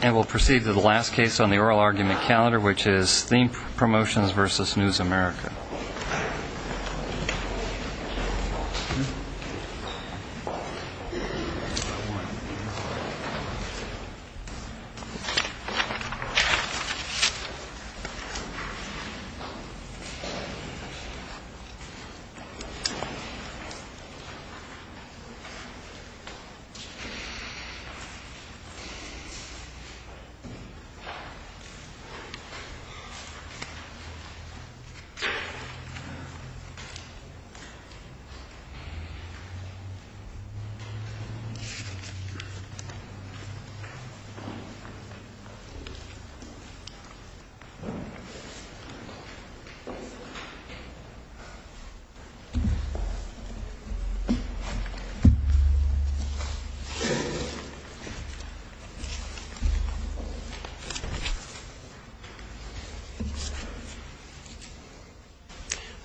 And we'll proceed to the last case on the oral argument calendar, which is Theme Promotions v. News America. This case is Theme Promotions v. News America.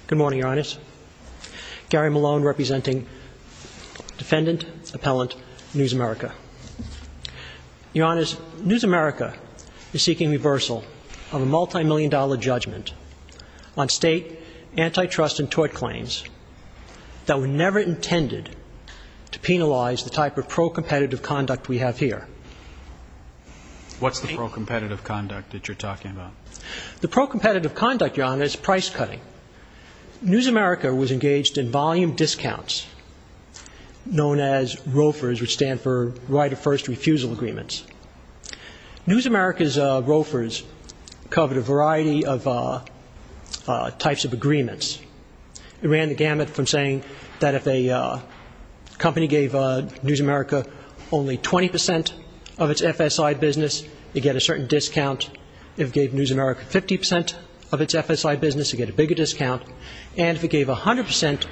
Good morning, Your Honors. Gary Malone representing Defendant Appellant News America. Your Honors, News America is seeking reversal of a multi-million dollar judgment on state antitrust and tort claims that were never intended to penalize the type of pro-competitive conduct we have here. What's the pro-competitive conduct that you're talking about? The pro-competitive conduct, Your Honors, is price cutting. News America was engaged in volume discounts, known as ROFRs, which stand for Right of First Refusal Agreements. News America's ROFRs covered a variety of types of agreements. It ran the gamut from saying that if a company gave News America only 20% of its FSI business, it'd get a certain discount. If it gave News America 50% of its FSI business, it'd get a bigger discount. And if it gave 100%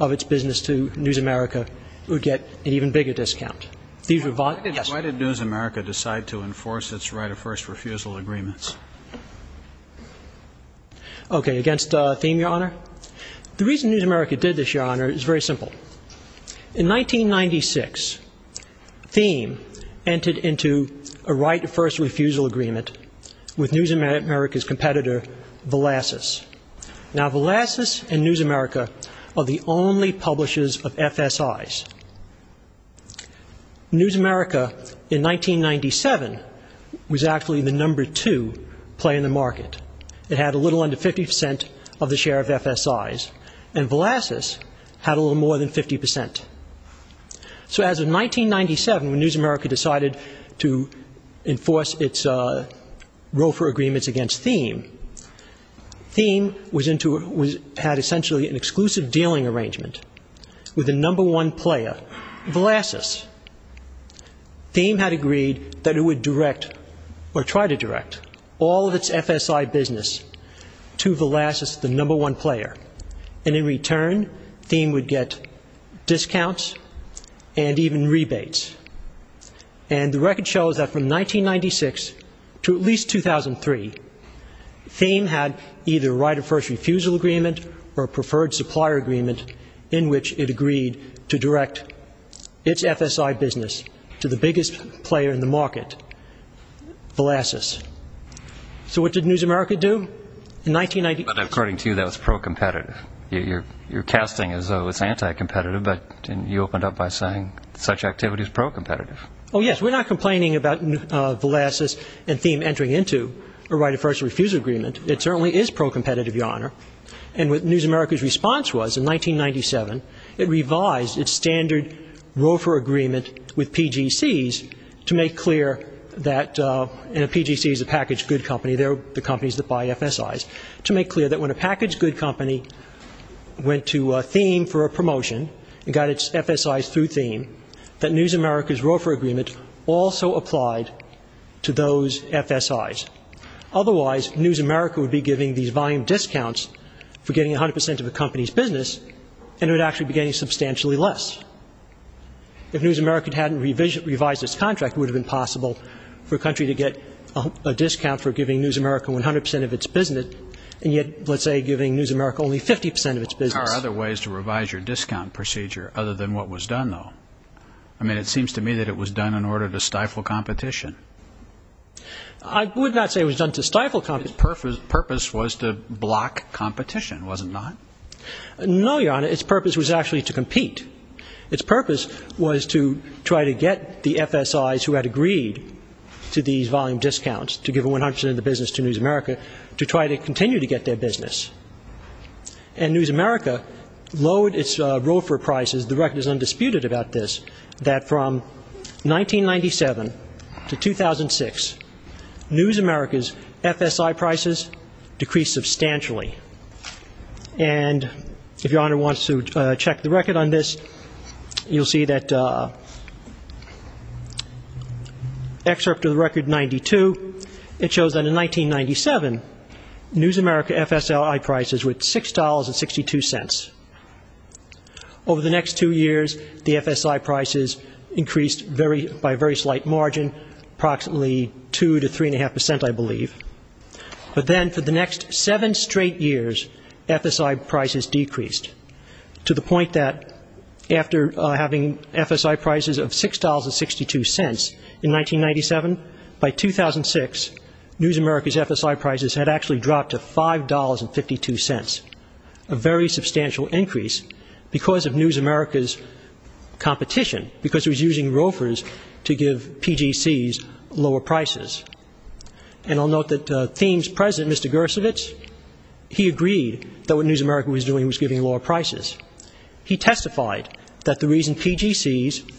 of its business to News America, it would get an even bigger discount. Why did News America decide to enforce its Right of First Refusal Agreements? Okay, against Theme, Your Honor? The reason News America did this, Your Honor, is very simple. In 1996, Theme entered into a Right of First Refusal Agreement with News America's competitor, Velasas. Now, Velasas and News America are the only publishers of FSIs. News America, in 1997, was actually the number two play in the market. It had a little under 50% of the share of FSIs, and Velasas had a little more than 50%. So as of 1997, when News America decided to enforce its ROFR agreements against Theme, Theme had essentially an exclusive dealing arrangement with the number one player, Velasas. Theme had agreed that it would direct, or try to direct, all of its FSI business to Velasas, the number one player. And in return, Theme would get discounts and even rebates. And the record shows that from 1996 to at least 2003, Theme had either a Right of First Refusal Agreement or a Preferred Supplier Agreement, in which it agreed to direct its FSI business to the biggest player in the market, Velasas. So what did News America do? In 19- But according to you, that was pro-competitive. You're casting as though it's anti-competitive, but you opened up by saying such activity is pro-competitive. Oh, yes. We're not complaining about Velasas and Theme entering into a Right of First Refusal Agreement. It certainly is pro-competitive, Your Honor. And what News America's response was in 1997, it revised its standard ROFR agreement with PGCs to make clear that, you know, PGCs are packaged good companies, they're the companies that buy FSIs, to make clear that when a packaged good company went to Theme for a promotion and got its FSIs through Theme, that News America's ROFR agreement also applied to those FSIs. Otherwise, News America would be giving these volume discounts for getting 100% of a company's business, and it would actually be getting substantially less. If News America hadn't revised its contract, it would have been possible for a country to get a discount for giving News America 100% of its business, and yet, let's say, giving News America only 50% of its business. Are there other ways to revise your discount procedure other than what was done, though? I mean, it seems to me that it was done in order to stifle competition. I would not say it was done to stifle competition. But its purpose was to block competition, was it not? No, Your Honor, its purpose was actually to compete. Its purpose was to try to get the FSIs who had agreed to these volume discounts, to give 100% of the business to News America, to try to continue to get their business. And News America lowered its ROFR prices. The record is undisputed about this, that from 1997 to 2006, News America's FSI prices decreased substantially. And if Your Honor wants to check the record on this, you'll see that excerpt of the record 92, it shows that in 1997, News America FSI prices were at $6.62. Over the next two years, the FSI prices increased by a very slight margin, approximately 2 to 3.5%, I believe. But then for the next seven straight years, FSI prices decreased to the point that after having FSI prices of $6.62 in 1997, by 2006, News America's FSI prices had actually dropped to $5.52, a very substantial increase because of News America's competition, because it was using ROFRs to give PGCs lower prices. And I'll note that Thiem's president, Mr. Gersowitz, he agreed that what News America was doing was giving lower prices. He testified that the reason PGCs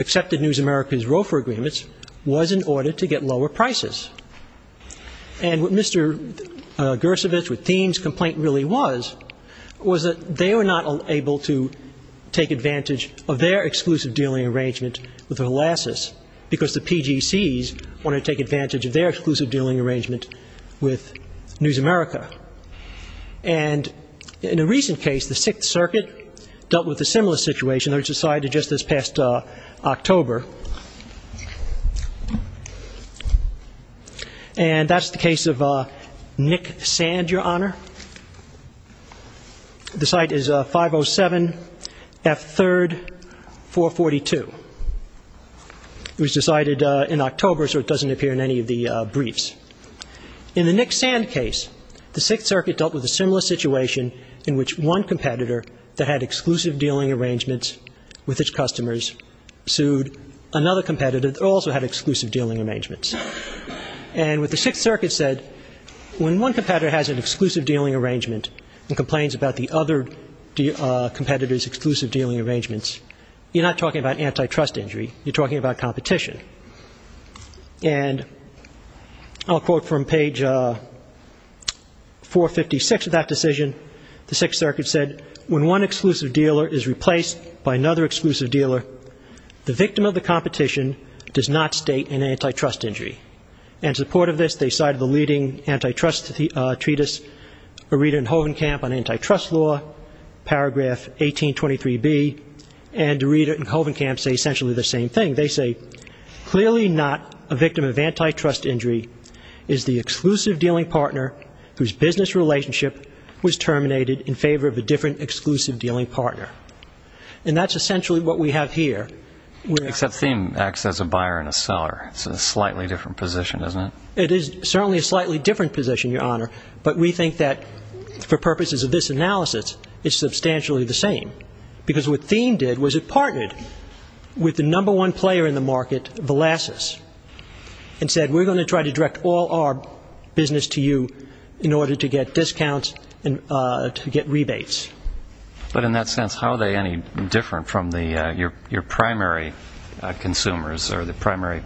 accepted News America's ROFR agreements was in order to get lower prices. And what Mr. Gersowitz, what Thiem's complaint really was, was that they were not able to take advantage of their exclusive dealing arrangement with Holacis because the PGCs wanted to take advantage of their exclusive dealing arrangement with News America. And in a recent case, the Sixth Circuit dealt with a similar situation that was decided just this past October. And that's the case of Nick Sand, Your Honor. The site is 507F3-442. It was decided in October, so it doesn't appear in any of the briefs. In the Nick Sand case, the Sixth Circuit dealt with a similar situation in which one competitor that had exclusive dealing arrangements with its customers sued another competitor that also had exclusive dealing arrangements. And what the Sixth Circuit said, when one competitor has an exclusive dealing arrangement and complains about the other competitor's exclusive dealing arrangements, you're not talking about antitrust injury, you're talking about competition. And I'll quote from page 456 of that decision. The Sixth Circuit said, when one exclusive dealer is replaced by another exclusive dealer, the victim of the competition does not state an antitrust injury. And in support of this, they cited the leading antitrust treatise, Areda and Hovenkamp on antitrust law, paragraph 1823B. And Areda and Hovenkamp say essentially the same thing. They say, clearly not a victim of antitrust injury is the exclusive dealing partner whose business relationship was terminated in favor of a different exclusive dealing partner. And that's essentially what we have here. Except Thiem acts as a buyer and a seller. It's a slightly different position, isn't it? It is certainly a slightly different position, Your Honor. But we think that for purposes of this analysis, it's substantially the same. Because what Thiem did was it partnered with the number one player in the market, Volasis, and said, we're going to try to direct all our business to you in order to get discounts and to get rebates. But in that sense, how are they any different from your primary consumers or the primary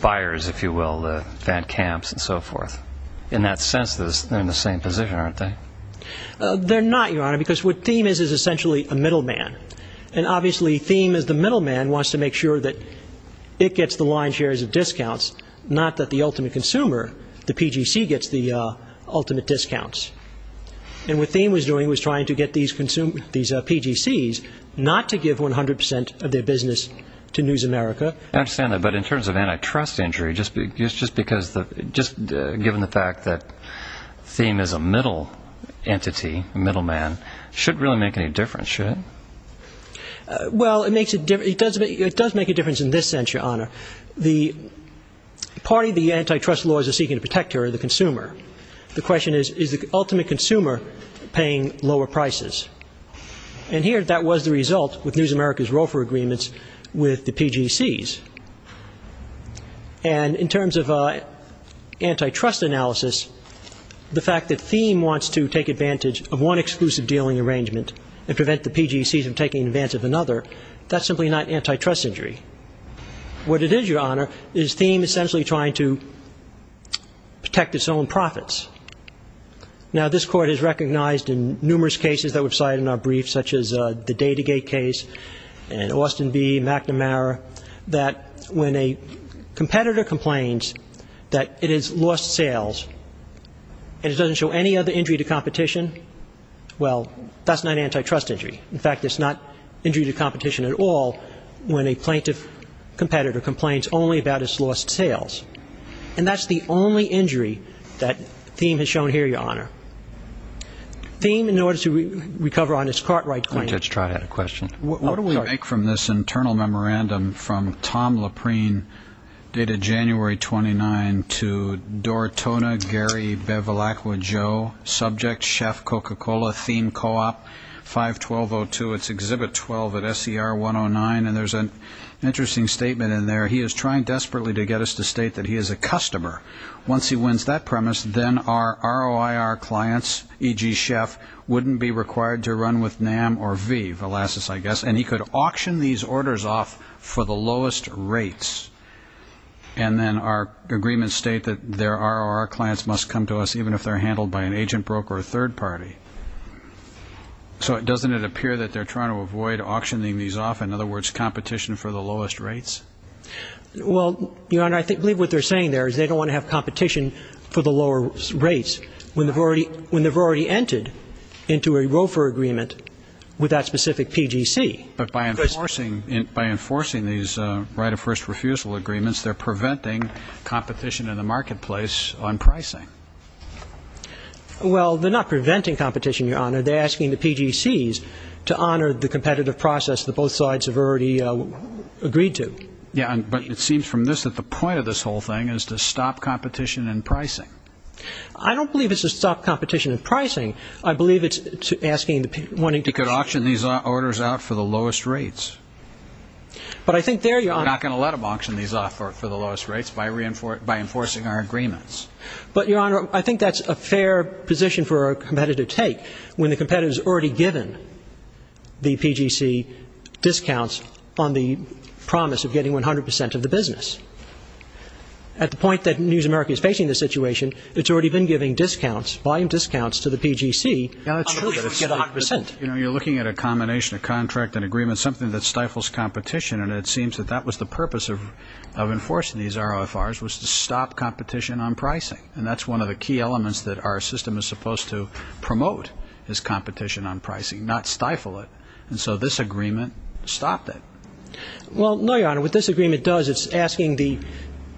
buyers, if you will, the Van Camps and so forth? In that sense, they're in the same position, aren't they? They're not, Your Honor, because what Thiem is is essentially a middleman. And obviously, Thiem as the middleman wants to make sure that it gets the lion's share of discounts, not that the ultimate consumer, the PGC, gets the ultimate discounts. And what Thiem was doing was trying to get these PGCs not to give 100 percent of their business to News America. I understand that. But in terms of antitrust injury, just given the fact that Thiem is a middle entity, a middleman, it shouldn't really make any difference, should it? Well, it does make a difference in this sense, Your Honor. The party the antitrust lawyers are seeking to protect here are the consumer. The question is, is the ultimate consumer paying lower prices? And here, that was the result with News America's ROFA agreements with the PGCs. And in terms of antitrust analysis, the fact that Thiem wants to take advantage of one exclusive dealing arrangement and prevent the PGCs from taking advantage of another, that's simply not antitrust injury. What it is, Your Honor, is Thiem essentially trying to protect its own profits. Now, this Court has recognized in numerous cases that we've cited in our briefs, such as the DataGate case and Austin v. McNamara, that when a competitor complains that it has lost sales and it doesn't show any other injury to competition, well, that's not antitrust injury. In fact, it's not injury to competition at all when a plaintiff competitor complains only about its lost sales. And that's the only injury that Thiem has shown here, Your Honor. Thiem, in order to recover on his Cartwright claim… And there's an interesting statement in there. He is trying desperately to get us to state that he is a customer. Once he wins that premise, then our ROIR clients, e.g., Chef, wouldn't be required to run with NAM or V, Velasas, I guess, and he could auction these orders off for the lowest rates. And then our agreements state that their ROIR clients must come to us even if they're handled by an agent, broker, or third party. So doesn't it appear that they're trying to avoid auctioning these off, in other words, competition for the lowest rates? Well, Your Honor, I believe what they're saying there is they don't want to have competition for the lower rates when they've already entered into a ROFR agreement with that specific PGC. But by enforcing these right of first refusal agreements, they're preventing competition in the marketplace on pricing. Well, they're not preventing competition, Your Honor. They're asking the PGCs to honor the competitive process that both sides have already agreed to. Yeah, but it seems from this that the point of this whole thing is to stop competition in pricing. I don't believe it's to stop competition in pricing. I believe it's asking… He could auction these orders out for the lowest rates. But I think there, Your Honor… We're not going to let them auction these off for the lowest rates by enforcing our agreements. But, Your Honor, I think that's a fair position for a competitor to take, when the competitor's already given the PGC discounts on the promise of getting 100 percent of the business. At the point that News America is facing this situation, it's already been giving discounts, volume discounts to the PGC on the promise to get 100 percent. Yeah, that's true, but it's like, you know, you're looking at a combination of contract and agreement, something that stifles competition, and it seems that that was the purpose of enforcing these ROFRs, was to stop competition on pricing. And that's one of the key elements that our system is supposed to promote, is competition on pricing, not stifle it. And so this agreement stopped it. Well, no, Your Honor, what this agreement does, it's asking the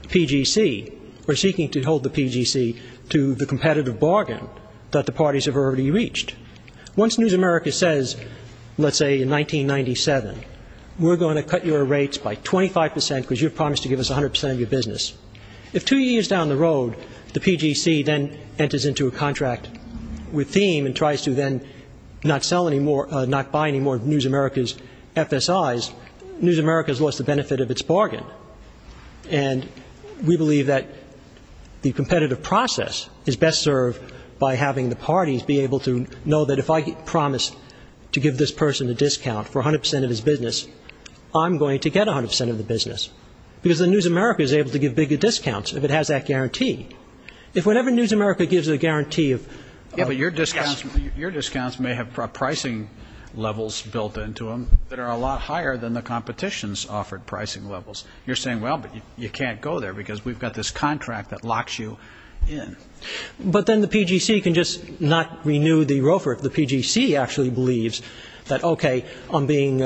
PGC, or seeking to hold the PGC to the competitive bargain that the parties have already reached. Once News America says, let's say, in 1997, we're going to cut your rates by 25 percent because you've promised to give us 100 percent of your business, if two years down the road, the PGC then enters into a contract with Thiem and tries to then not sell any more, not buy any more of News America's FSIs, News America's lost the benefit of its bargain. And we believe that the competitive process is best served by having the parties be able to know that if I promise to give this person a discount for 100 percent of his business, I'm going to get 100 percent of the business. Because then News America is able to give bigger discounts, if it has that guarantee. If whatever News America gives a guarantee of... Yeah, but your discounts may have pricing levels built into them that are a lot higher than the competition's offered pricing levels. You're saying, well, but you can't go there, because we've got this contract that locks you in. But then the PGC can just not renew the ROFR if the PGC actually believes that, okay, I'm being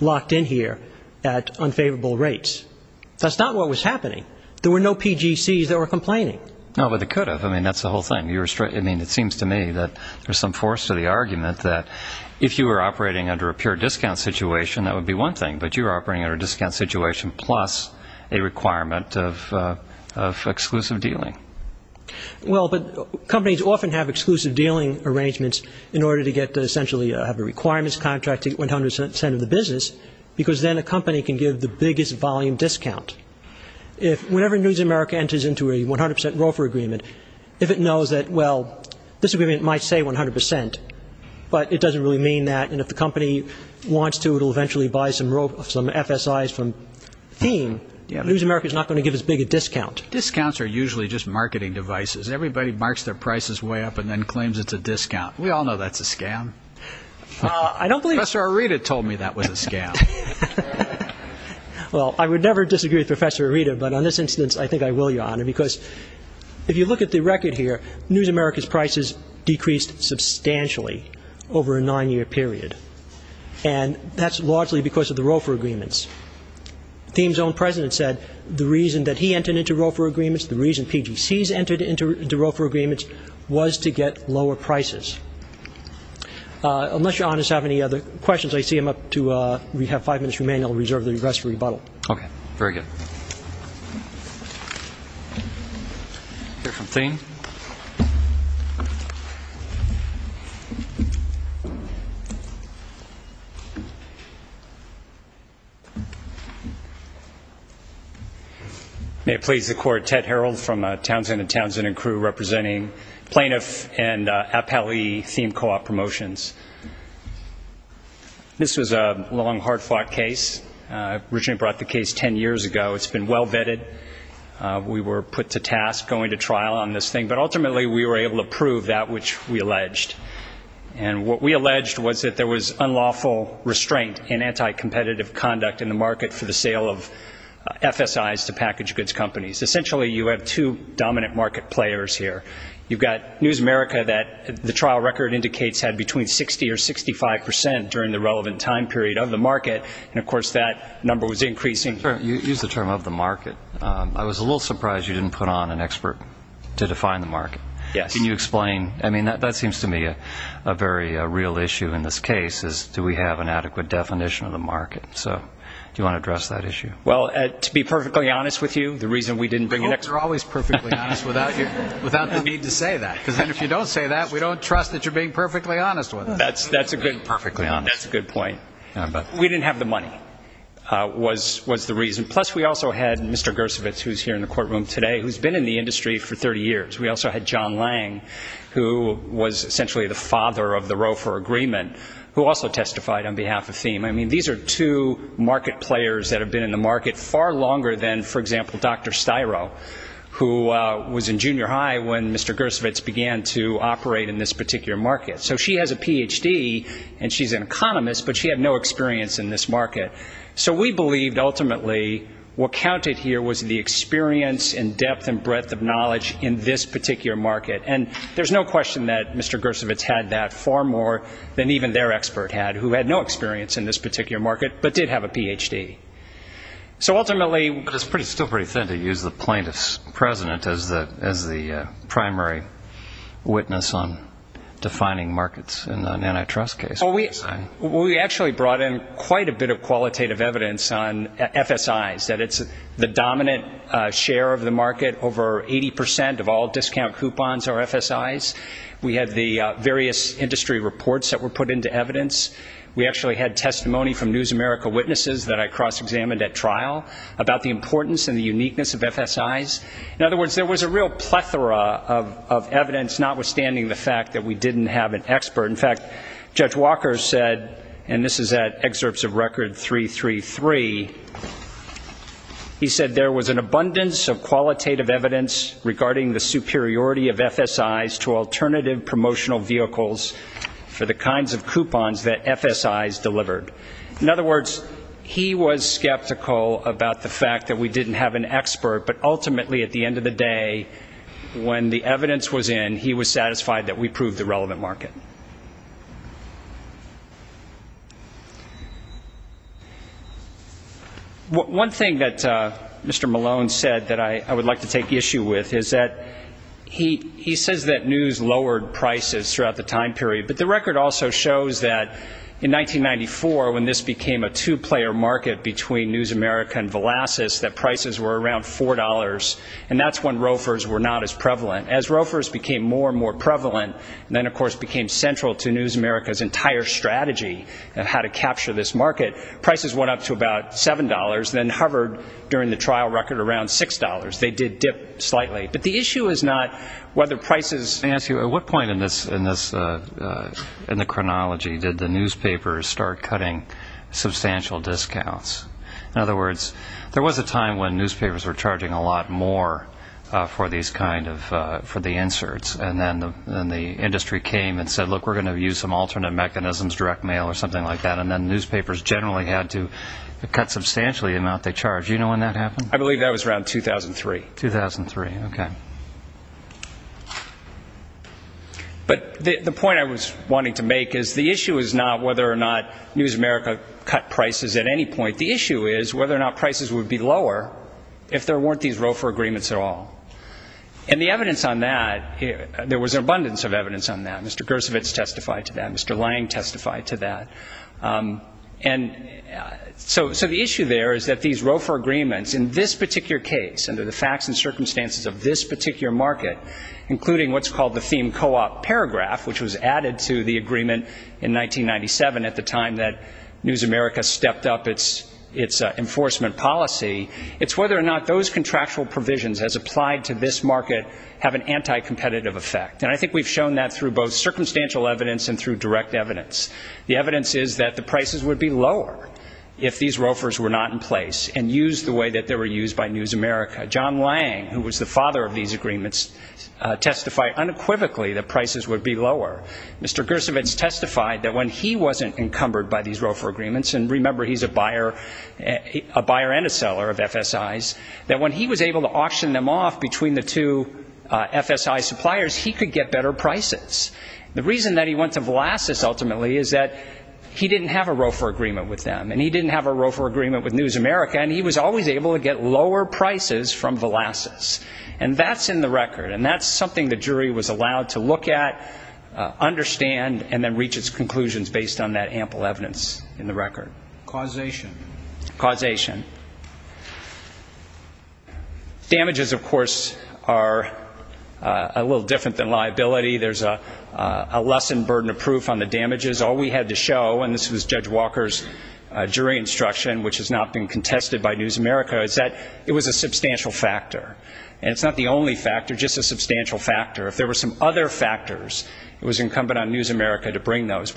locked in here at unfavorable rates. That's not what was happening. There were no PGCs that were complaining. No, but they could have. I mean, that's the whole thing. I mean, it seems to me that there's some force to the argument that if you were operating under a pure discount situation, that would be one thing. But you're operating under a discount situation plus a requirement of exclusive dealing. Well, but companies often have exclusive dealing arrangements in order to get to essentially have a requirements contract to get 100 percent of the business, because then a company can give the biggest volume discount. Whenever News America enters into a 100 percent ROFR agreement, if it knows that, well, this agreement might say 100 percent, but it doesn't really mean that. And if the company wants to, it'll eventually buy some FSIs from Theme. News America's not going to give as big a discount. Discounts are usually just marketing devices. Everybody marks their prices way up and then claims it's a discount. We all know that's a scam. I don't believe – Professor Arita told me that was a scam. Well, I would never disagree with Professor Arita, but on this instance, I think I will, Your Honor, because if you look at the record here, News America's prices decreased substantially over a nine-year period. And that's largely because of the ROFR agreements. Theme's own president said the reason that he entered into ROFR agreements, the reason PGCs entered into ROFR agreements, was to get lower prices. Unless Your Honors have any other questions, I see I'm up to – we have five minutes remaining. I'll reserve the rest for rebuttal. Okay. Very good. We'll hear from Theme. May it please the Court, Ted Harreld from Townsend & Townsend & Crew, representing plaintiff and appellee Theme Co-op Promotions. This was a long, hard-fought case. Originally brought the case ten years ago. It's been well vetted. It's a task going to trial on this thing. But ultimately, we were able to prove that which we alleged. And what we alleged was that there was unlawful restraint and anti-competitive conduct in the market for the sale of FSIs to package goods companies. Essentially, you have two dominant market players here. You've got News America that the trial record indicates had between 60 or 65 percent during the relevant time period of the market. And, of course, that number was increasing. You used the term of the market. I was a little surprised you didn't put on an expert to define the market. Can you explain? I mean, that seems to me a very real issue in this case, is do we have an adequate definition of the market? So do you want to address that issue? Well, to be perfectly honest with you, the reason we didn't bring an expert You're always perfectly honest without the need to say that. Because if you don't say that, we don't trust that you're being perfectly honest with us. That's a good point. We didn't have the money was the reason. Plus, we also had Mr. Gersowitz, who's here in the courtroom today, who's been in the industry for 30 years. We also had John Lang, who was essentially the father of the Roe for Agreement, who also testified on behalf of Thiem. I mean, these are two market players that have been in the market far longer than, for example, Dr. Styro, who was in junior high when Mr. Gersowitz began to operate in this particular market. So she has a Ph.D. and she's an economist, but she had no experience in this market. So we believed, ultimately, what counted here was the experience and depth and breadth of knowledge in this particular market. And there's no question that Mr. Gersowitz had that far more than even their expert had, who had no experience in this particular market, but did have a Ph.D. But it's still pretty thin to use the plaintiff's president as the primary witness on defining markets in an antitrust case. Well, we actually brought in quite a bit of qualitative evidence on FSIs, that it's the dominant share of the market. Over 80 percent of all discount coupons are FSIs. We had the various industry reports that were put into evidence. We actually had testimony from News America witnesses that I cross-examined at trial about the importance and the uniqueness of FSIs. In other words, there was a real plethora of evidence, notwithstanding the fact that we didn't have an expert. In fact, Judge Walker said, and this is at excerpts of Record 333, he said there was an abundance of qualitative evidence regarding the superiority of FSIs to alternative promotional vehicles for the kinds of coupons that FSIs delivered. In other words, he was skeptical about the fact that we didn't have an expert, but ultimately, at the end of the day, when the evidence was in, he was satisfied that we proved the relevant market. Thank you. One thing that Mr. Malone said that I would like to take issue with is that he says that news lowered prices throughout the time period, but the record also shows that in 1994, when this became a two-player market between News America and Velasas, that prices were around $4, and that's when rofers were not as prevalent. As rofers became more and more prevalent, and then, of course, became central to News America's entire strategy of how to capture this market, prices went up to about $7, then hovered during the trial record around $6. They did dip slightly, but the issue is not whether prices... Let me ask you, at what point in the chronology did the newspapers start cutting substantial discounts? In other words, there was a time when newspapers were charging a lot more for the inserts, and then the industry came and said, look, we're going to use some alternate mechanisms, direct mail or something like that, and then newspapers generally had to cut substantially the amount they charged. Do you know when that happened? I believe that was around 2003. 2003, okay. But the point I was wanting to make is the issue is not whether or not News America cut prices at any point. The issue is whether or not prices would be lower if there weren't these ROFA agreements at all. And the evidence on that, there was an abundance of evidence on that. Mr. Gersowitz testified to that. Mr. Lange testified to that. And so the issue there is that these ROFA agreements, in this particular case, under the facts and circumstances of this particular market, including what's called the theme co-op paragraph, which was added to the agreement in 1997 at the time that News America stepped up its enforcement policy, it's whether or not those contractual provisions as applied to this market have an anti-competitive effect. And I think we've shown that through both circumstantial evidence and through direct evidence. The evidence is that the prices would be lower if these ROFAs were not in place and used the way that they were used by News America. John Lange, who was the father of these agreements, testified unequivocally that prices would be lower. Mr. Gersowitz testified that when he wasn't encumbered by these ROFA agreements, and remember, he's a buyer and a seller of FSIs, that when he was able to auction them off between the two FSI suppliers, he could get better prices. The reason that he went to Volasis, ultimately, is that he didn't have a ROFA agreement with them, and he didn't have a ROFA agreement with News America, and he was always able to get lower prices from Volasis. And that's in the record, and that's something the jury was allowed to look at, understand, and then reach its conclusions based on that ample evidence in the record. Causation. Damages, of course, are a little different than liability. There's a lessened burden of proof on the damages. All we had to show, and this was Judge Walker's jury instruction, which has not been contested by News America, is that it was a substantial factor. And it's not the only factor, just a substantial factor. If there were some other factors, it was incumbent on News America to bring those.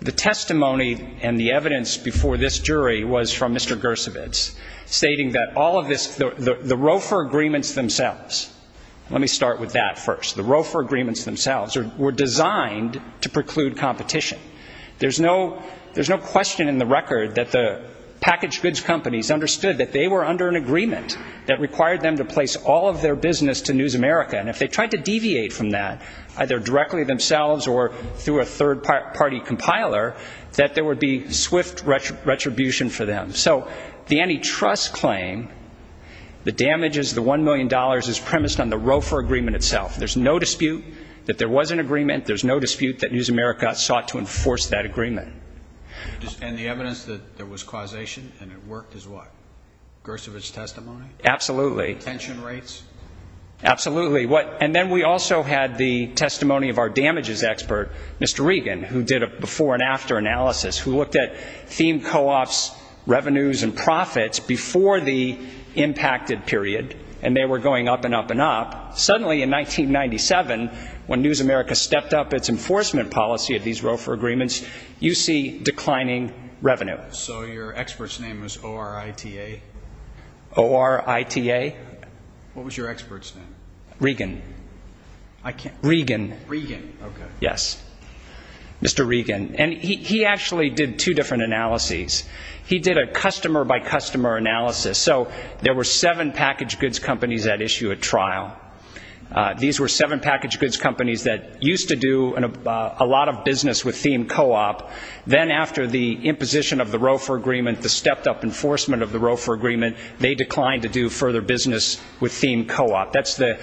The testimony and the evidence before this jury was from Mr. Gersowitz, stating that all of this, the ROFA agreements themselves, let me start with that first, the ROFA agreements themselves were designed to preclude competition. There's no question in the record that the packaged goods companies understood that they were under an agreement that required them to place all of their business to News America, and if they tried to deviate from that, either directly themselves or through a third-party compiler, that there would be swift retribution for them. So the antitrust claim, the damages, the $1 million, is premised on the ROFA agreement itself. There's no dispute that there was an agreement. There's no dispute that News America sought to enforce that agreement. And the evidence that there was causation and it worked is what? Gersowitz's testimony? Absolutely. Tension rates? Absolutely. There was an expert, Mr. Regan, who did a before-and-after analysis who looked at theme co-ops revenues and profits before the impacted period, and they were going up and up and up. Suddenly, in 1997, when News America stepped up its enforcement policy of these ROFA agreements, you see declining revenue. So your expert's name was O-R-I-T-A? O-R-I-T-A. What was your expert's name? Regan. Regan. Okay. Yes. Mr. Regan. And he actually did two different analyses. He did a customer-by-customer analysis. So there were seven packaged goods companies at issue at trial. These were seven packaged goods companies that used to do a lot of business with theme co-op. Then after the imposition of the ROFA agreement, the stepped-up enforcement of the ROFA agreement, they declined to do further business with theme co-op. That's the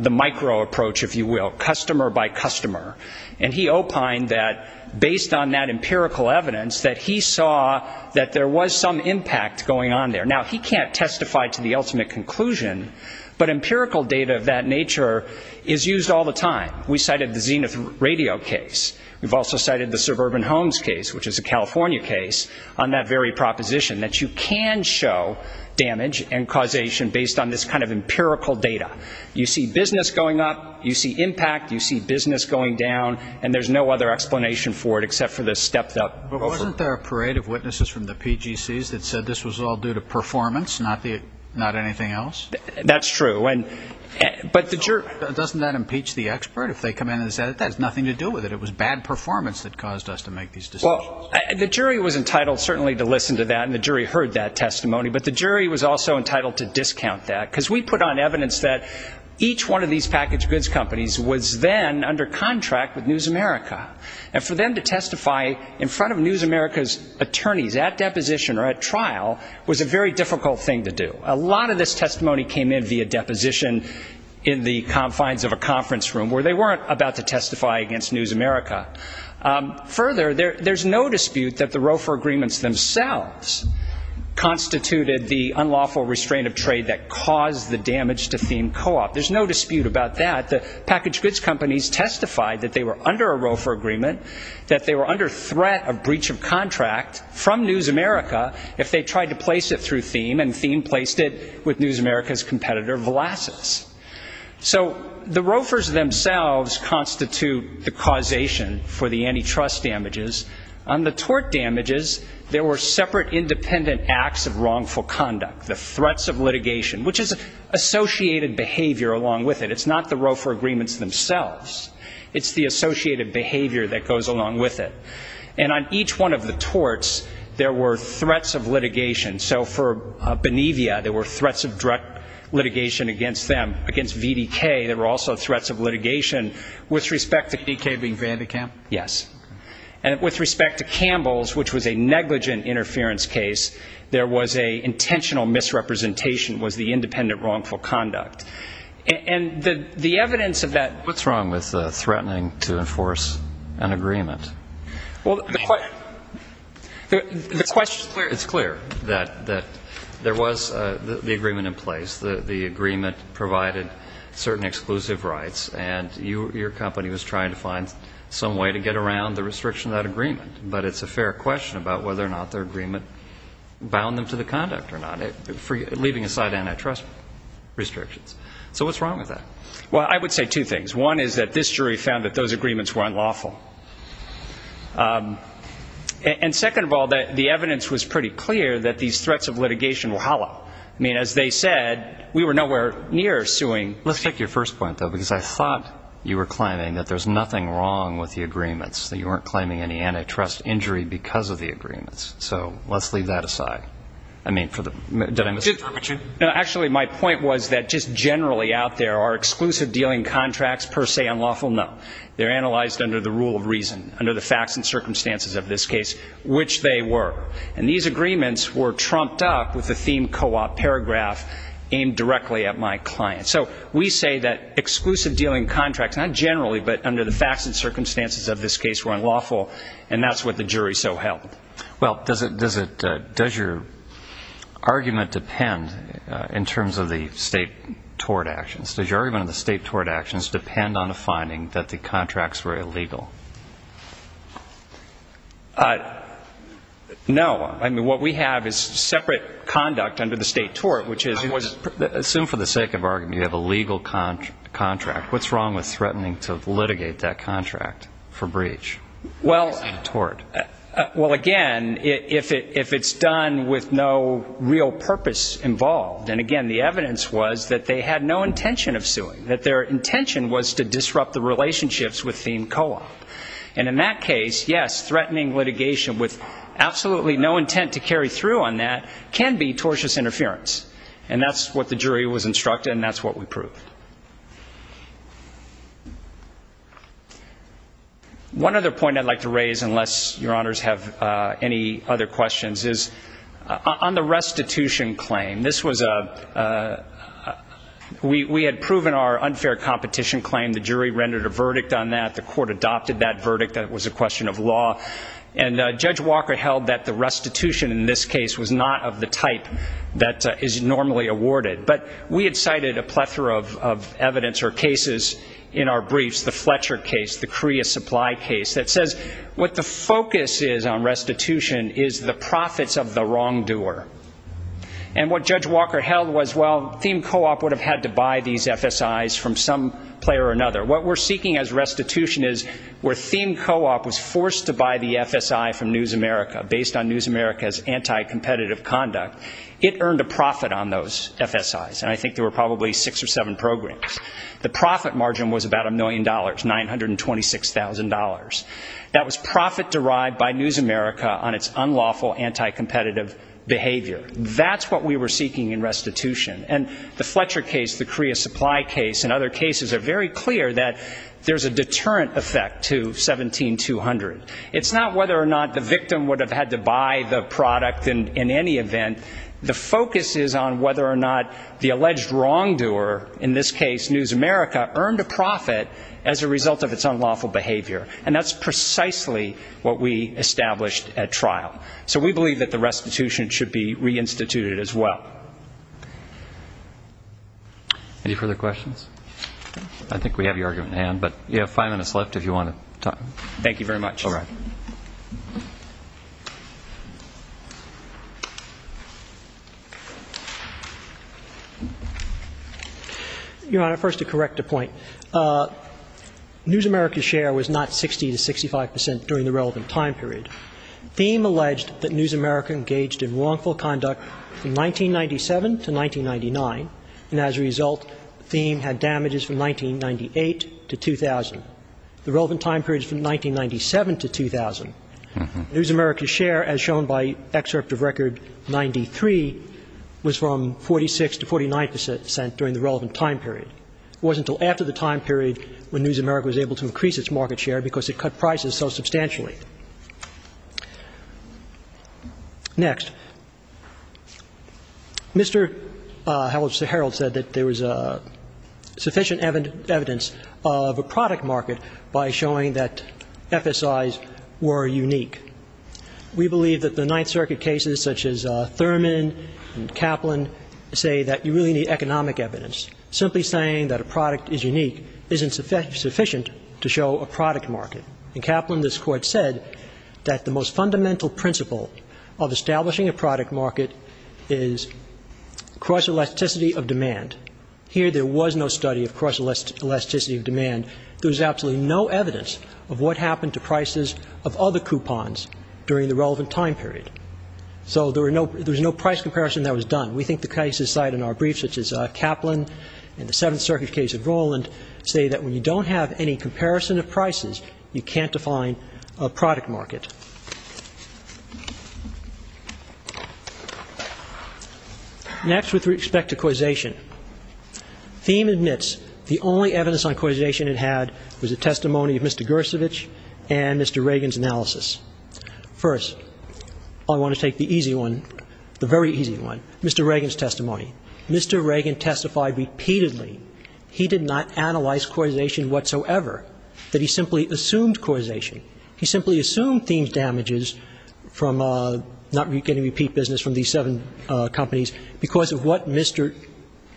micro-approach, if you will, customer-by-customer. And he opined that, based on that empirical evidence, that he saw that there was some impact going on there. Now, he can't testify to the ultimate conclusion, but empirical data of that nature is used all the time. We cited the Zenith Radio case. We've also cited the Suburban Homes case, which is a California case, on that very proposition, that you can show damage and causation based on this kind of empirical evidence and empirical data. You see business going up. You see impact. You see business going down. And there's no other explanation for it except for the stepped-up ROFA. But wasn't there a parade of witnesses from the PGCs that said this was all due to performance, not anything else? That's true. But the jury... Doesn't that impeach the expert if they come in and say, that has nothing to do with it? It was bad performance that each one of these packaged goods companies was then under contract with News America. And for them to testify in front of News America's attorneys at deposition or at trial was a very difficult thing to do. A lot of this testimony came in via deposition in the confines of a conference room where they weren't about to testify against News America. that the ROFA agreements themselves constituted the unlawful restraint of trade that caused the damage to Thiem Co-op. There's no dispute about that. The packaged goods companies testified that they were under a ROFA agreement, that they were under threat of breach of contract from News America if they tried to place it through Thiem, and Thiem placed it with News America's competitor, Volasis. So the ROFAs themselves constitute the causation for the antitrust damages. On the tort damages, there were separate independent acts of wrongful conduct. There were threats of litigation, which is associated behavior along with it. It's not the ROFA agreements themselves. It's the associated behavior that goes along with it. And on each one of the torts, there were threats of litigation. So for Benevia, there were threats of direct litigation against them, against VDK. There were also threats of litigation with respect to... VDK being Van de Kamp? Yes. And with respect to Campbell's, which was a negligent interference case, there was an intentional misrepresentation was the independent wrongful conduct. And the evidence of that... What's wrong with threatening to enforce an agreement? Well... The question... It's clear that there was the agreement in place. The agreement provided certain exclusive rights, and your company was trying to find some way to get around the restriction of that agreement. But it's a fair question about whether or not their agreement bound them to the conduct or not, leaving aside antitrust restrictions. So what's wrong with that? Well, I would say two things. One is that this jury found that those agreements were unlawful. And second of all, the evidence was pretty clear that these threats of litigation were hollow. I mean, as they said, we were nowhere near suing... Let's take your first point, though, we weren't claiming any antitrust injury because of the agreements. So let's leave that aside. I mean, for the... Actually, my point was that just generally out there are exclusive dealing contracts per se unlawful? No. They're analyzed under the rule of reason, under the facts and circumstances of this case, which they were. And these agreements were trumped up with the theme co-op paragraph aimed directly at my client. So we say that exclusive dealing contracts, not generally, but under the facts and circumstances of this case, were unlawful, and that's what the jury so held. Well, does your argument depend in terms of the state tort actions? Does your argument of the state tort actions depend on the finding that the contracts were illegal? No. I mean, what we have is separate conduct under the state tort, which is... Assume for the sake of argument you have a legal contract. What's wrong with threatening to litigate that contract for breach? Well... The tort. Well, again, if it's done with no real purpose involved, and again, the evidence was that they had no intention of suing, that their intention was to disrupt the relationships with theme co-op. And in that case, yes, threatening litigation with absolutely no intent to carry through on that can be tortious interference. And that's what the jury was instructed, and that's what we proved. One other point I'd like to raise, unless your honors have any other questions, is on the restitution claim. This was a... We had proven our unfair competition claim. The jury rendered a verdict on that. The court adopted that verdict. That was a question of law. And Judge Walker held that the restitution was not the type that is normally awarded. But we had cited a plethora of evidence or cases in our briefs, the Fletcher case, the Korea supply case, that says what the focus is on restitution is the profits of the wrongdoer. And what Judge Walker held was, well, theme co-op would have had to buy these FSIs from some player or another. What we're seeking as restitution is where theme co-op was forced to buy the FSI from News America based on News America's profit margin. It earned a profit on those FSIs. And I think there were probably six or seven programs. The profit margin was about a million dollars, $926,000. That was profit derived by News America on its unlawful, anti-competitive behavior. That's what we were seeking in restitution. And the Fletcher case, the Korea supply case, and other cases are very clear that there's a deterrent effect to 17-200. It's not whether or not the victim would have had to buy the product or not. The focus is on whether or not the alleged wrongdoer, in this case News America, earned a profit as a result of its unlawful behavior. And that's precisely what we established at trial. So we believe that the restitution should be reinstituted as well. Any further questions? I think we have your argument in hand, but you have five minutes left if you want to talk. Thank you very much. Your Honor, first to correct a point, News America's share was not 60 to 65 percent during the relevant time period. Thiem alleged that News America engaged in wrongful conduct from 1997 to 1999, and as a result, Thiem had damages from 1998 to 2000. The relevant time period is from 1997 to 2000. News America's share, as shown by excerpt of Record 93, was from 46 to 49 percent during the relevant time period. It wasn't until after the time period when News America was able to increase its market share because it cut prices so substantially. Next. Mr. Harold said that there was sufficient evidence of a product market by showing that FSIs were unique. We believe that the Ninth Circuit cases, such as Thurman, and Kaplan, say that you really need economic evidence. Simply saying that a product is unique isn't sufficient to show a product market. In Kaplan, this Court said that the most fundamental principle of establishing a product market is cross-elasticity of demand. Here, there was no study of cross-elasticity of demand. There was absolutely no evidence of what happened to prices of other coupons during the relevant time period. There was no cross-comparison that was done. We think the cases cited in our brief, such as Kaplan and the Seventh Circuit case of Roland, say that when you don't have any comparison of prices, you can't define a product market. Next, with respect to causation. Thieme admits the only evidence on causation it had was the testimony of Mr. Gersovich and Mr. Reagan's analysis. First, I want to take the easy one, the very easy one, Mr. Reagan's testimony. Mr. Reagan testified repeatedly he did not analyze causation whatsoever, that he simply assumed causation. He simply assumed Thieme's damages from not getting repeat business from these seven companies because of what Mr.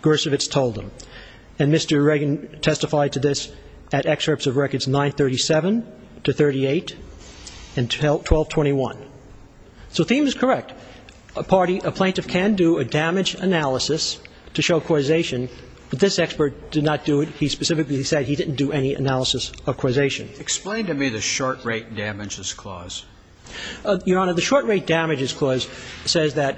Gersovich told him. And Mr. Reagan testified to this at excerpts of records 937 to 38 and 1221. So Thieme is correct. A plaintiff can do a damage analysis to show causation, but this expert did not do it. He specifically said he didn't do any analysis of causation. Explain to me the short rate damages clause. Your Honor, the short rate damages clause says that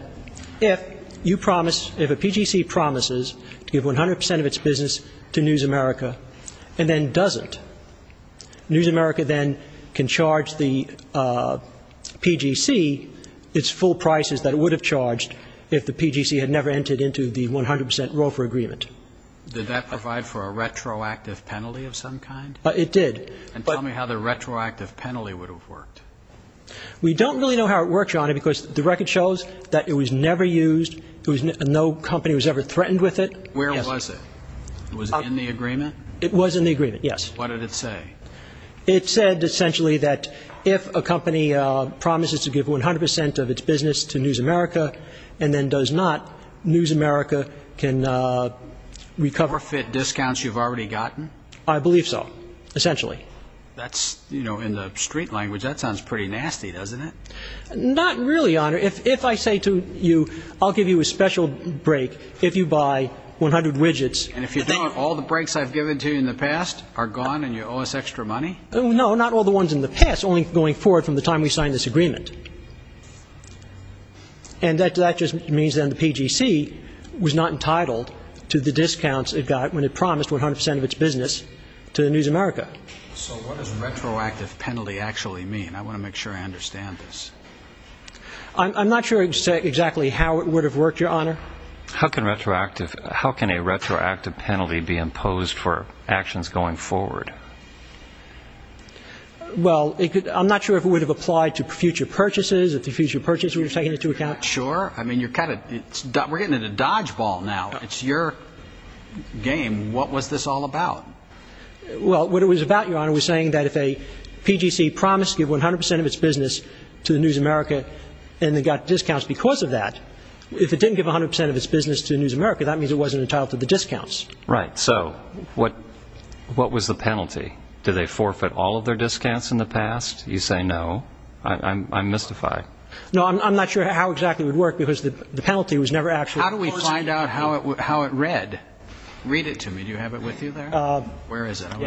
if you promise, if a PGC promises to give 100 percent of its business to News America and then doesn't, News America then can charge the PGC its full prices that it would have charged if the PGC had never entered into the 100 percent Roe v. Agreement. Did that provide for a retroactive penalty of some kind? It did. And tell me how the retroactive penalty would have worked. We don't really know how it worked, Your Honor, because the record shows that it was never used, no company was ever threatened with it. Where was it? Was it in the agreement? It was in the agreement, yes. If a PGC promises 100 percent of its business to News America and then does not, News America can recover. Forfeit discounts you've already gotten? I believe so, essentially. That's, you know, in the street language, that sounds pretty nasty, doesn't it? Not really, Your Honor. If I say to you, I'll give you a special break if you buy 100 widgets. And if you don't, all the breaks I've given to you in the past are gone and you owe us extra money? No, not all the ones in the past, only going forward from the time we signed this agreement. And that just means then the PGC was not entitled to the discounts it got when it promised 100 percent of its business to News America. So what does retroactive penalty actually mean? I want to make sure I understand this. I'm not sure exactly how it would have worked, Your Honor. How can a retroactive penalty be imposed for actions going forward? Well, I'm not sure if it would have applied to future purchases, if the future purchase would have taken into account. Sure. I mean, you're kind of, we're getting into dodgeball now. It's your game. What was this all about? Well, what it was about, Your Honor, was saying that if a PGC promised to give 100 percent of its business to News America and then got discounts because of that, if it didn't give 100 percent of its business to News America, that means it wasn't entitled to the discounts. Right. So what was the penalty? Did they forfeit all of their discounts in the past? You say no. I'm mystified. No, I'm not sure how exactly it would work because the penalty was never actually imposed. How do we find out how it read? Read it to me. Do you have it with you there? Where is it? I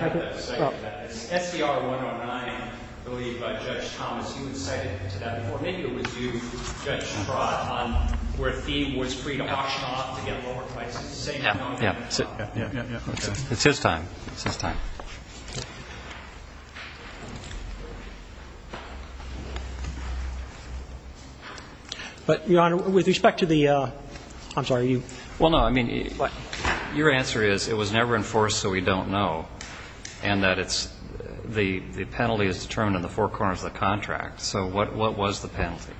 have it. SDR 109, I believe, by Judge Thomas. You had cited it to that before. Maybe it was you, Judge Straut, on where fee was free to auction off to get lower prices. Yeah, yeah. It's his time. It's his time. But, Your Honor, with respect to the, I'm sorry, you. Well, no, I mean, your answer is it was never enforced so we don't know and that it's, the penalty is determined in the four corners of the contract. So what was the penalty?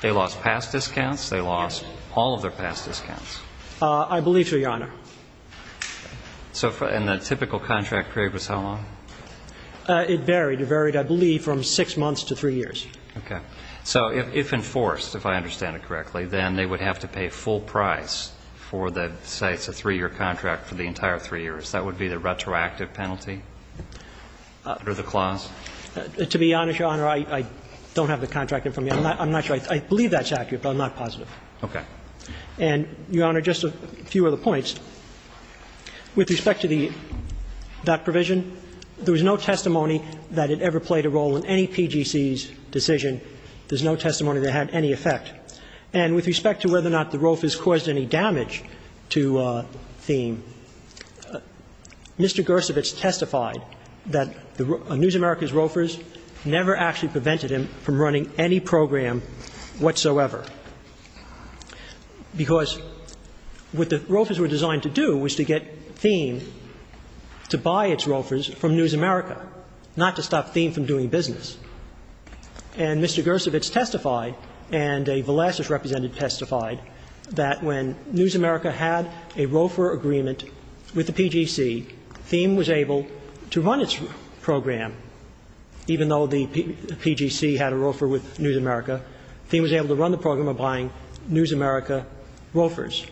They lost past discounts? Yes. They lost all of their past discounts? I believe so, Your Honor. And the typical contract period was how long? It varied. It varied, I believe, from six months to three years. Okay. So if enforced, if I understand it correctly, then they would have to pay full price for the sites of three-year contract That would be the retroactive penalty under the clause? To be honest, Your Honor, I don't have the contract in front of me. I'm not sure. I believe that's accurate, but I'm not positive. Okay. And, Your Honor, just a few other points. With respect to the, that provision, there was no testimony that it ever played a role in any PGC's decision. There's no testimony that it had any effect. And with respect to whether or not the rofers caused any damage to Thiem, Mr. Gersowitz testified that NewsAmerica's rofers never actually prevented him from running any program whatsoever. Because what the rofers were designed to do was to get Thiem to buy its rofers from NewsAmerica, not to stop Thiem from doing business. And Mr. Gersowitz testified, and a Velasquez representative testified, that when NewsAmerica had a rofer agreement with the PGC, Thiem was able to run its program even though the PGC had a rofer with NewsAmerica, Thiem was able to run the program by buying NewsAmerica rofers.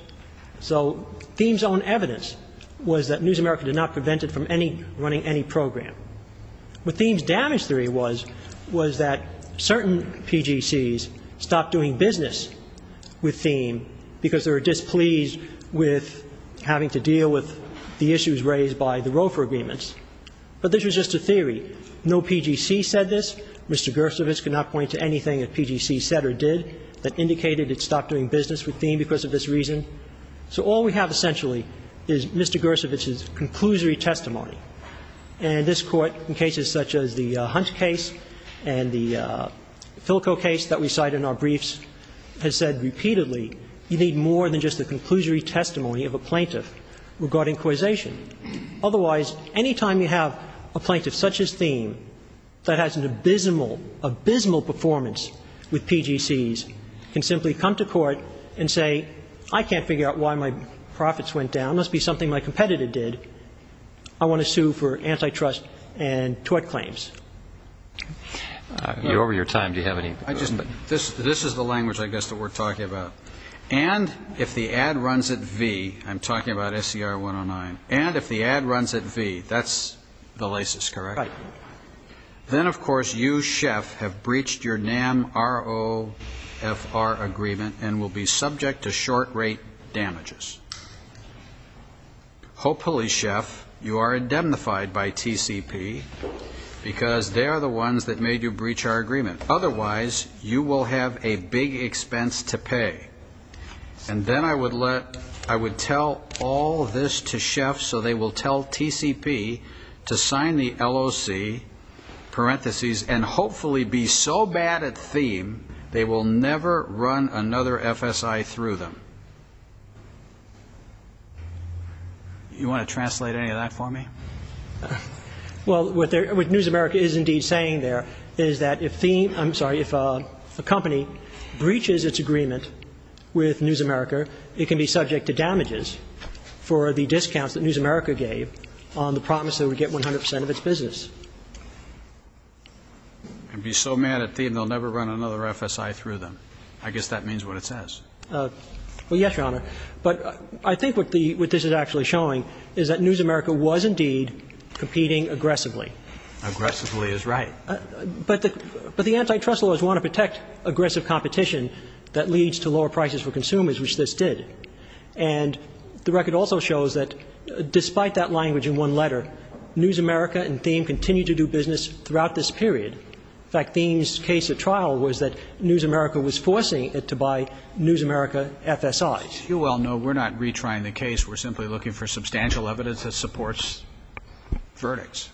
So Thiem's own evidence was that NewsAmerica did not prevent it from running any program. What Thiem's damage theory was was that certain PGCs stopped doing business with Thiem because they were displeased with having to deal with the issues raised by the rofer agreements. But this was just a theory. No PGC said this. Mr. Gersowitz could not point to anything that PGC said or did that indicated it stopped doing business with Thiem because of this reason. So all we have essentially is Mr. Gersowitz's conclusory testimony. And this Court, in cases such as the Hunt case and the Philco case that we cite in our briefs, has said repeatedly you need more than just the conclusory testimony of a plaintiff regarding causation. Otherwise, any time you have a plaintiff such as Thiem that has an abysmal, abysmal performance with PGCs can simply come to court and say I can't figure out why my profits went down. It must be something my competitor did. I want to sue for antitrust and tort claims. You're over your time. Do you have any questions? This is the language I guess that we're talking about. And if the ad runs at V, I'm talking about SCR 109, and if the ad runs at V, that's the lasis, correct? Right. Then, of course, you, Sheff, have breached your NAMROFR agreement and will be subject to short-rate damages. Hopefully, Sheff, you are indemnified by TCP because they are the ones that made you breach our agreement. Otherwise, you will have a big expense to pay. And then I would let, I would let all this to Sheff so they will tell TCP to sign the LOC parentheses and hopefully be so bad at theme they will never run another FSI through them. You want to translate any of that for me? Well, what News America is indeed saying there is that if theme, I'm sorry, if a company breaches its agreement with News America, it can be subject to damages for the discounts that News America gave on the promise it would get 100% of its business. And be so bad at theme they will never run another FSI through them. I guess that means what it says. Well, yes, Your Honor. But I think what this is actually showing is that News America was indeed competing aggressively. Aggressively is right. But the antitrust laws want to protect aggressive competition that leads to lower prices for consumers, which they just did. And the record also shows that despite that language in one letter, News America and theme continue to do business throughout this period. In fact, theme's case at trial was that News America was forcing it to buy News America FSIs. You well know we're not retrying the case. We're simply looking for substantial evidence that supports verdicts.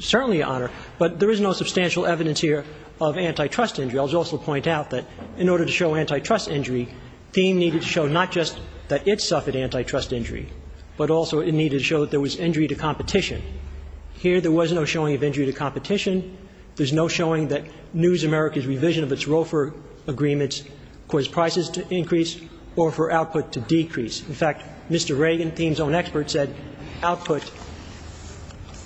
Certainly, Your Honor. But there is no substantial evidence here of antitrust injury. I'll just also point out that theme needed to show not just that it suffered antitrust injury, but also it needed to show that there was injury to competition. Here there was no showing of injury to competition. There's no showing that News America's revision of its ROFR agreements caused prices to increase or for output to decrease. In fact, Mr. Reagan, theme's own expert, said output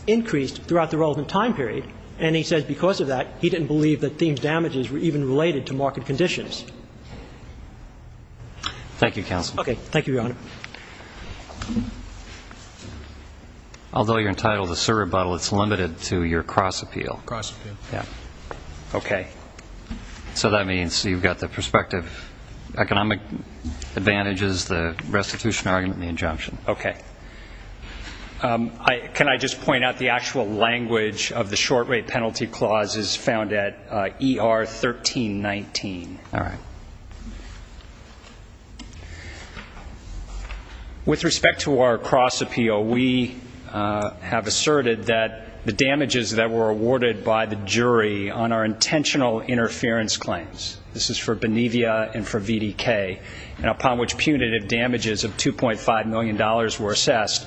increased throughout the relevant time period. And he said because of that he didn't believe that theme's damages were even related to market conditions. Thank you, Counsel. Okay. Thank you, Your Honor. Although you're entitled to serve rebuttal, it's limited to your cross appeal. Cross appeal. Okay. So that means you've got the prospective economic advantages, the restitution argument, and the injunction. Okay. Can I just point out the actual language of the short rate penalty clause is found at ER 1319. All right. With respect to our cross appeal, we have asserted that the damages that were awarded by the jury on our intentional interference claims, this is for Benevia and for VDK, and upon which punitive damages of $2.5 million were assessed,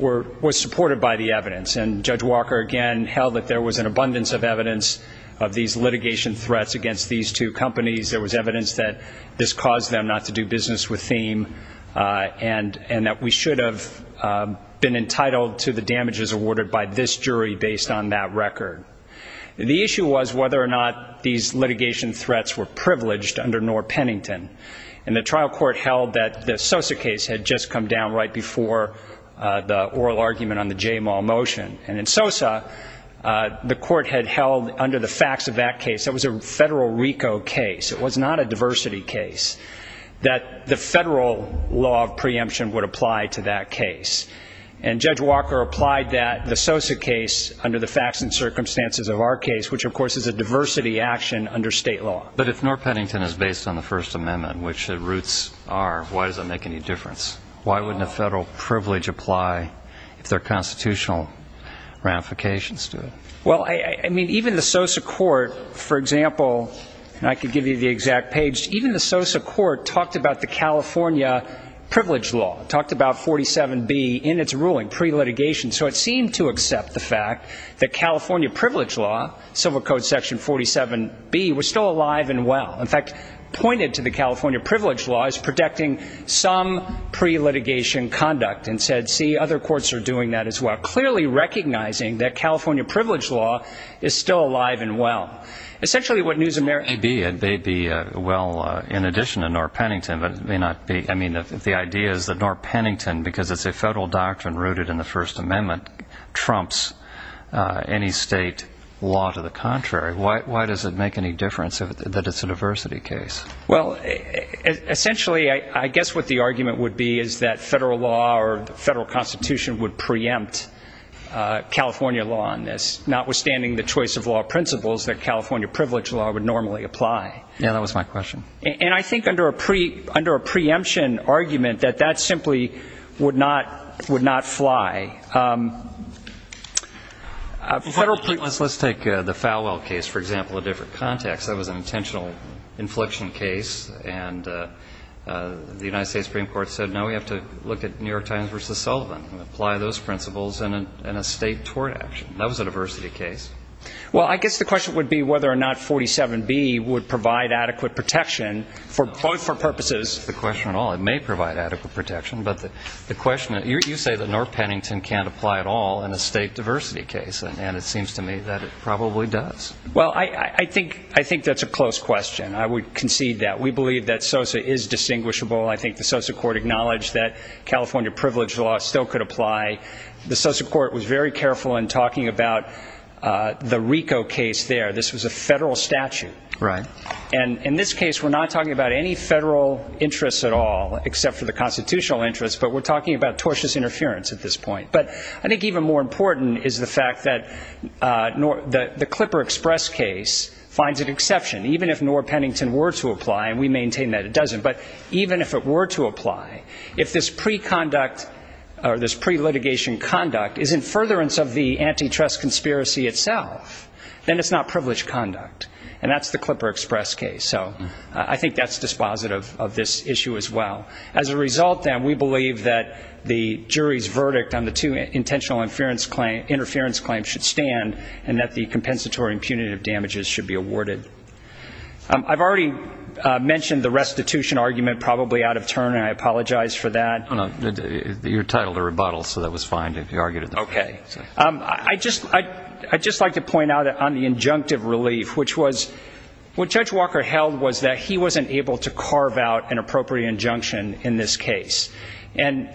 were supported by the evidence. And Judge Walker, again, held that there was an abundance of evidence of these litigation threats against these two companies. There was evidence that this caused them to do business with Thiem, and that we should have been entitled to the damages awarded by this jury based on that record. The issue was whether or not these litigation threats were privileged under Knorr-Pennington. And the trial court held that the Sosa case had just come down right before the oral argument on the Jaymall motion. And in Sosa, the court had held, under the facts of that case, that was a Federal RICO case. It was not a diversity case, that the Federal law of preemption would apply to that case. And Judge Walker applied that, the Sosa case, under the facts and circumstances of our case, which, of course, is a diversity action under state law. But if Knorr-Pennington is based on the First Amendment, which its roots are, why does that make any difference? Why wouldn't a Federal privilege apply if there are constitutional ramifications to it? Well, I mean, even the Sosa court, for example, and I could give you the exact page, even the Sosa court talked about the California Privilege Law, talked about 47B in its ruling, pre-litigation. So it seemed to accept the fact that California Privilege Law, Civil Code Section 47B, was still alive and well. In fact, pointed to the California Privilege Law as protecting some pre-litigation conduct and said, see, other courts are doing that as well, clearly recognizing that California Privilege Law is still alive and well. Essentially what NewsAmerica... Maybe it may be well in addition to Knorr-Pennington, but it may not be. I mean, if the idea is that Knorr-Pennington, because it's a Federal doctrine rooted in the First Amendment, trumps any state law to the contrary, why does it make any difference that it's a diversity case? Why does it make any difference that it would preempt California law on this, notwithstanding the choice of law principles that California Privilege Law would normally apply? Yeah, that was my question. And I think under a preemption argument that that simply would not fly. Federal... Let's take the Falwell case, for example, a different context. That was an intentional infliction case, and the United States Supreme Court applied those principles in a state tort action. That was a diversity case. Well, I guess the question would be whether or not 47B would provide adequate protection for both purposes. That's not the question at all. It may provide adequate protection, but the question... You say that Knorr-Pennington can't apply at all in a state diversity case, and it seems to me that it probably does. Well, I think that's a close question. I would concede that. We believe that SOSA is distinguishable. The SOSA court was very careful in talking about the RICO case there. This was a federal statute. And in this case, we're not talking about any federal interests at all, except for the constitutional interests, but we're talking about tortious interference at this point. But I think even more important is the fact that the Clipper Express case finds an exception. Even if Knorr-Pennington were to apply, and we maintain that it doesn't, but even if it were to apply, if this preconduct, or this pre-litigation conduct is in furtherance of the antitrust conspiracy itself, then it's not privileged conduct. And that's the Clipper Express case. So I think that's dispositive of this issue as well. As a result, then, we believe that the jury's verdict on the two intentional interference claims should stand, and that the compensatory and punitive damages should be awarded. I've already mentioned the restitution argument probably out of turn, and I apologize for that. No, no, your title to rebuttal, so that was fine if you argued it that way. Okay. I'd just like to point out on the injunctive relief, which was what Judge Walker held was that he wasn't able to carve out an appropriate injunction in this case. And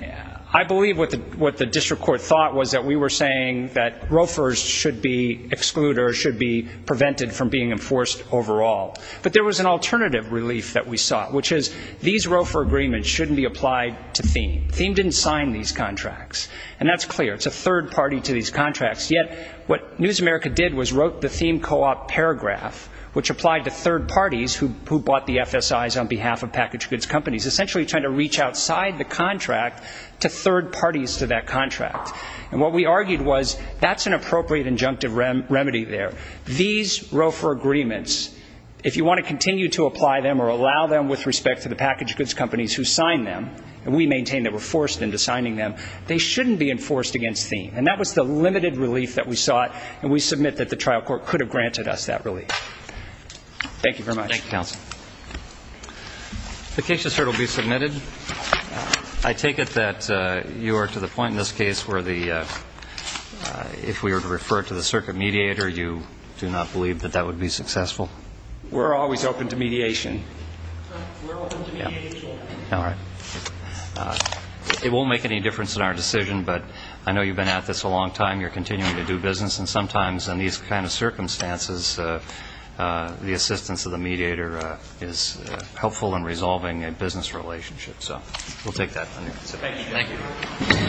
I believe what the district court thought was that we were saying that ROFRs should be excluded or should be prevented from being enforced overall. But there was an alternative relief that we sought, which is these ROFR agreements shouldn't be applied to Thiem. Thiem didn't sign these contracts. And that's clear. It's a third party to these contracts. Yet what News America did was wrote the Thiem co-op paragraph, which applied to third parties who bought the FSIs on behalf of packaged goods companies, essentially trying to reach outside the contract to third parties to that contract. And what we argued was that's an appropriate injunctive remedy there. These ROFR agreements, if you want to continue to apply them or allow them with respect to the packaged goods companies who signed them, and we maintain they were forced into signing them, they shouldn't be enforced against Thiem. And that was the limited relief that we sought. And we submit that the trial court could have granted us that relief. Thank you very much. Thank you, counsel. The case just heard will be submitted. I take it that you are to the point in this case where the, if we were to refer it to the circuit mediator, you do not believe that that would be successful? We're always open to mediation. We're open to mediation. All right. It won't make any difference in our decision, but I know you've been at this a long time. You're continuing to do business. And sometimes in these kind of circumstances, the assistance of the mediator is helpful in resolving a business relationship. So we'll take that. Thank you.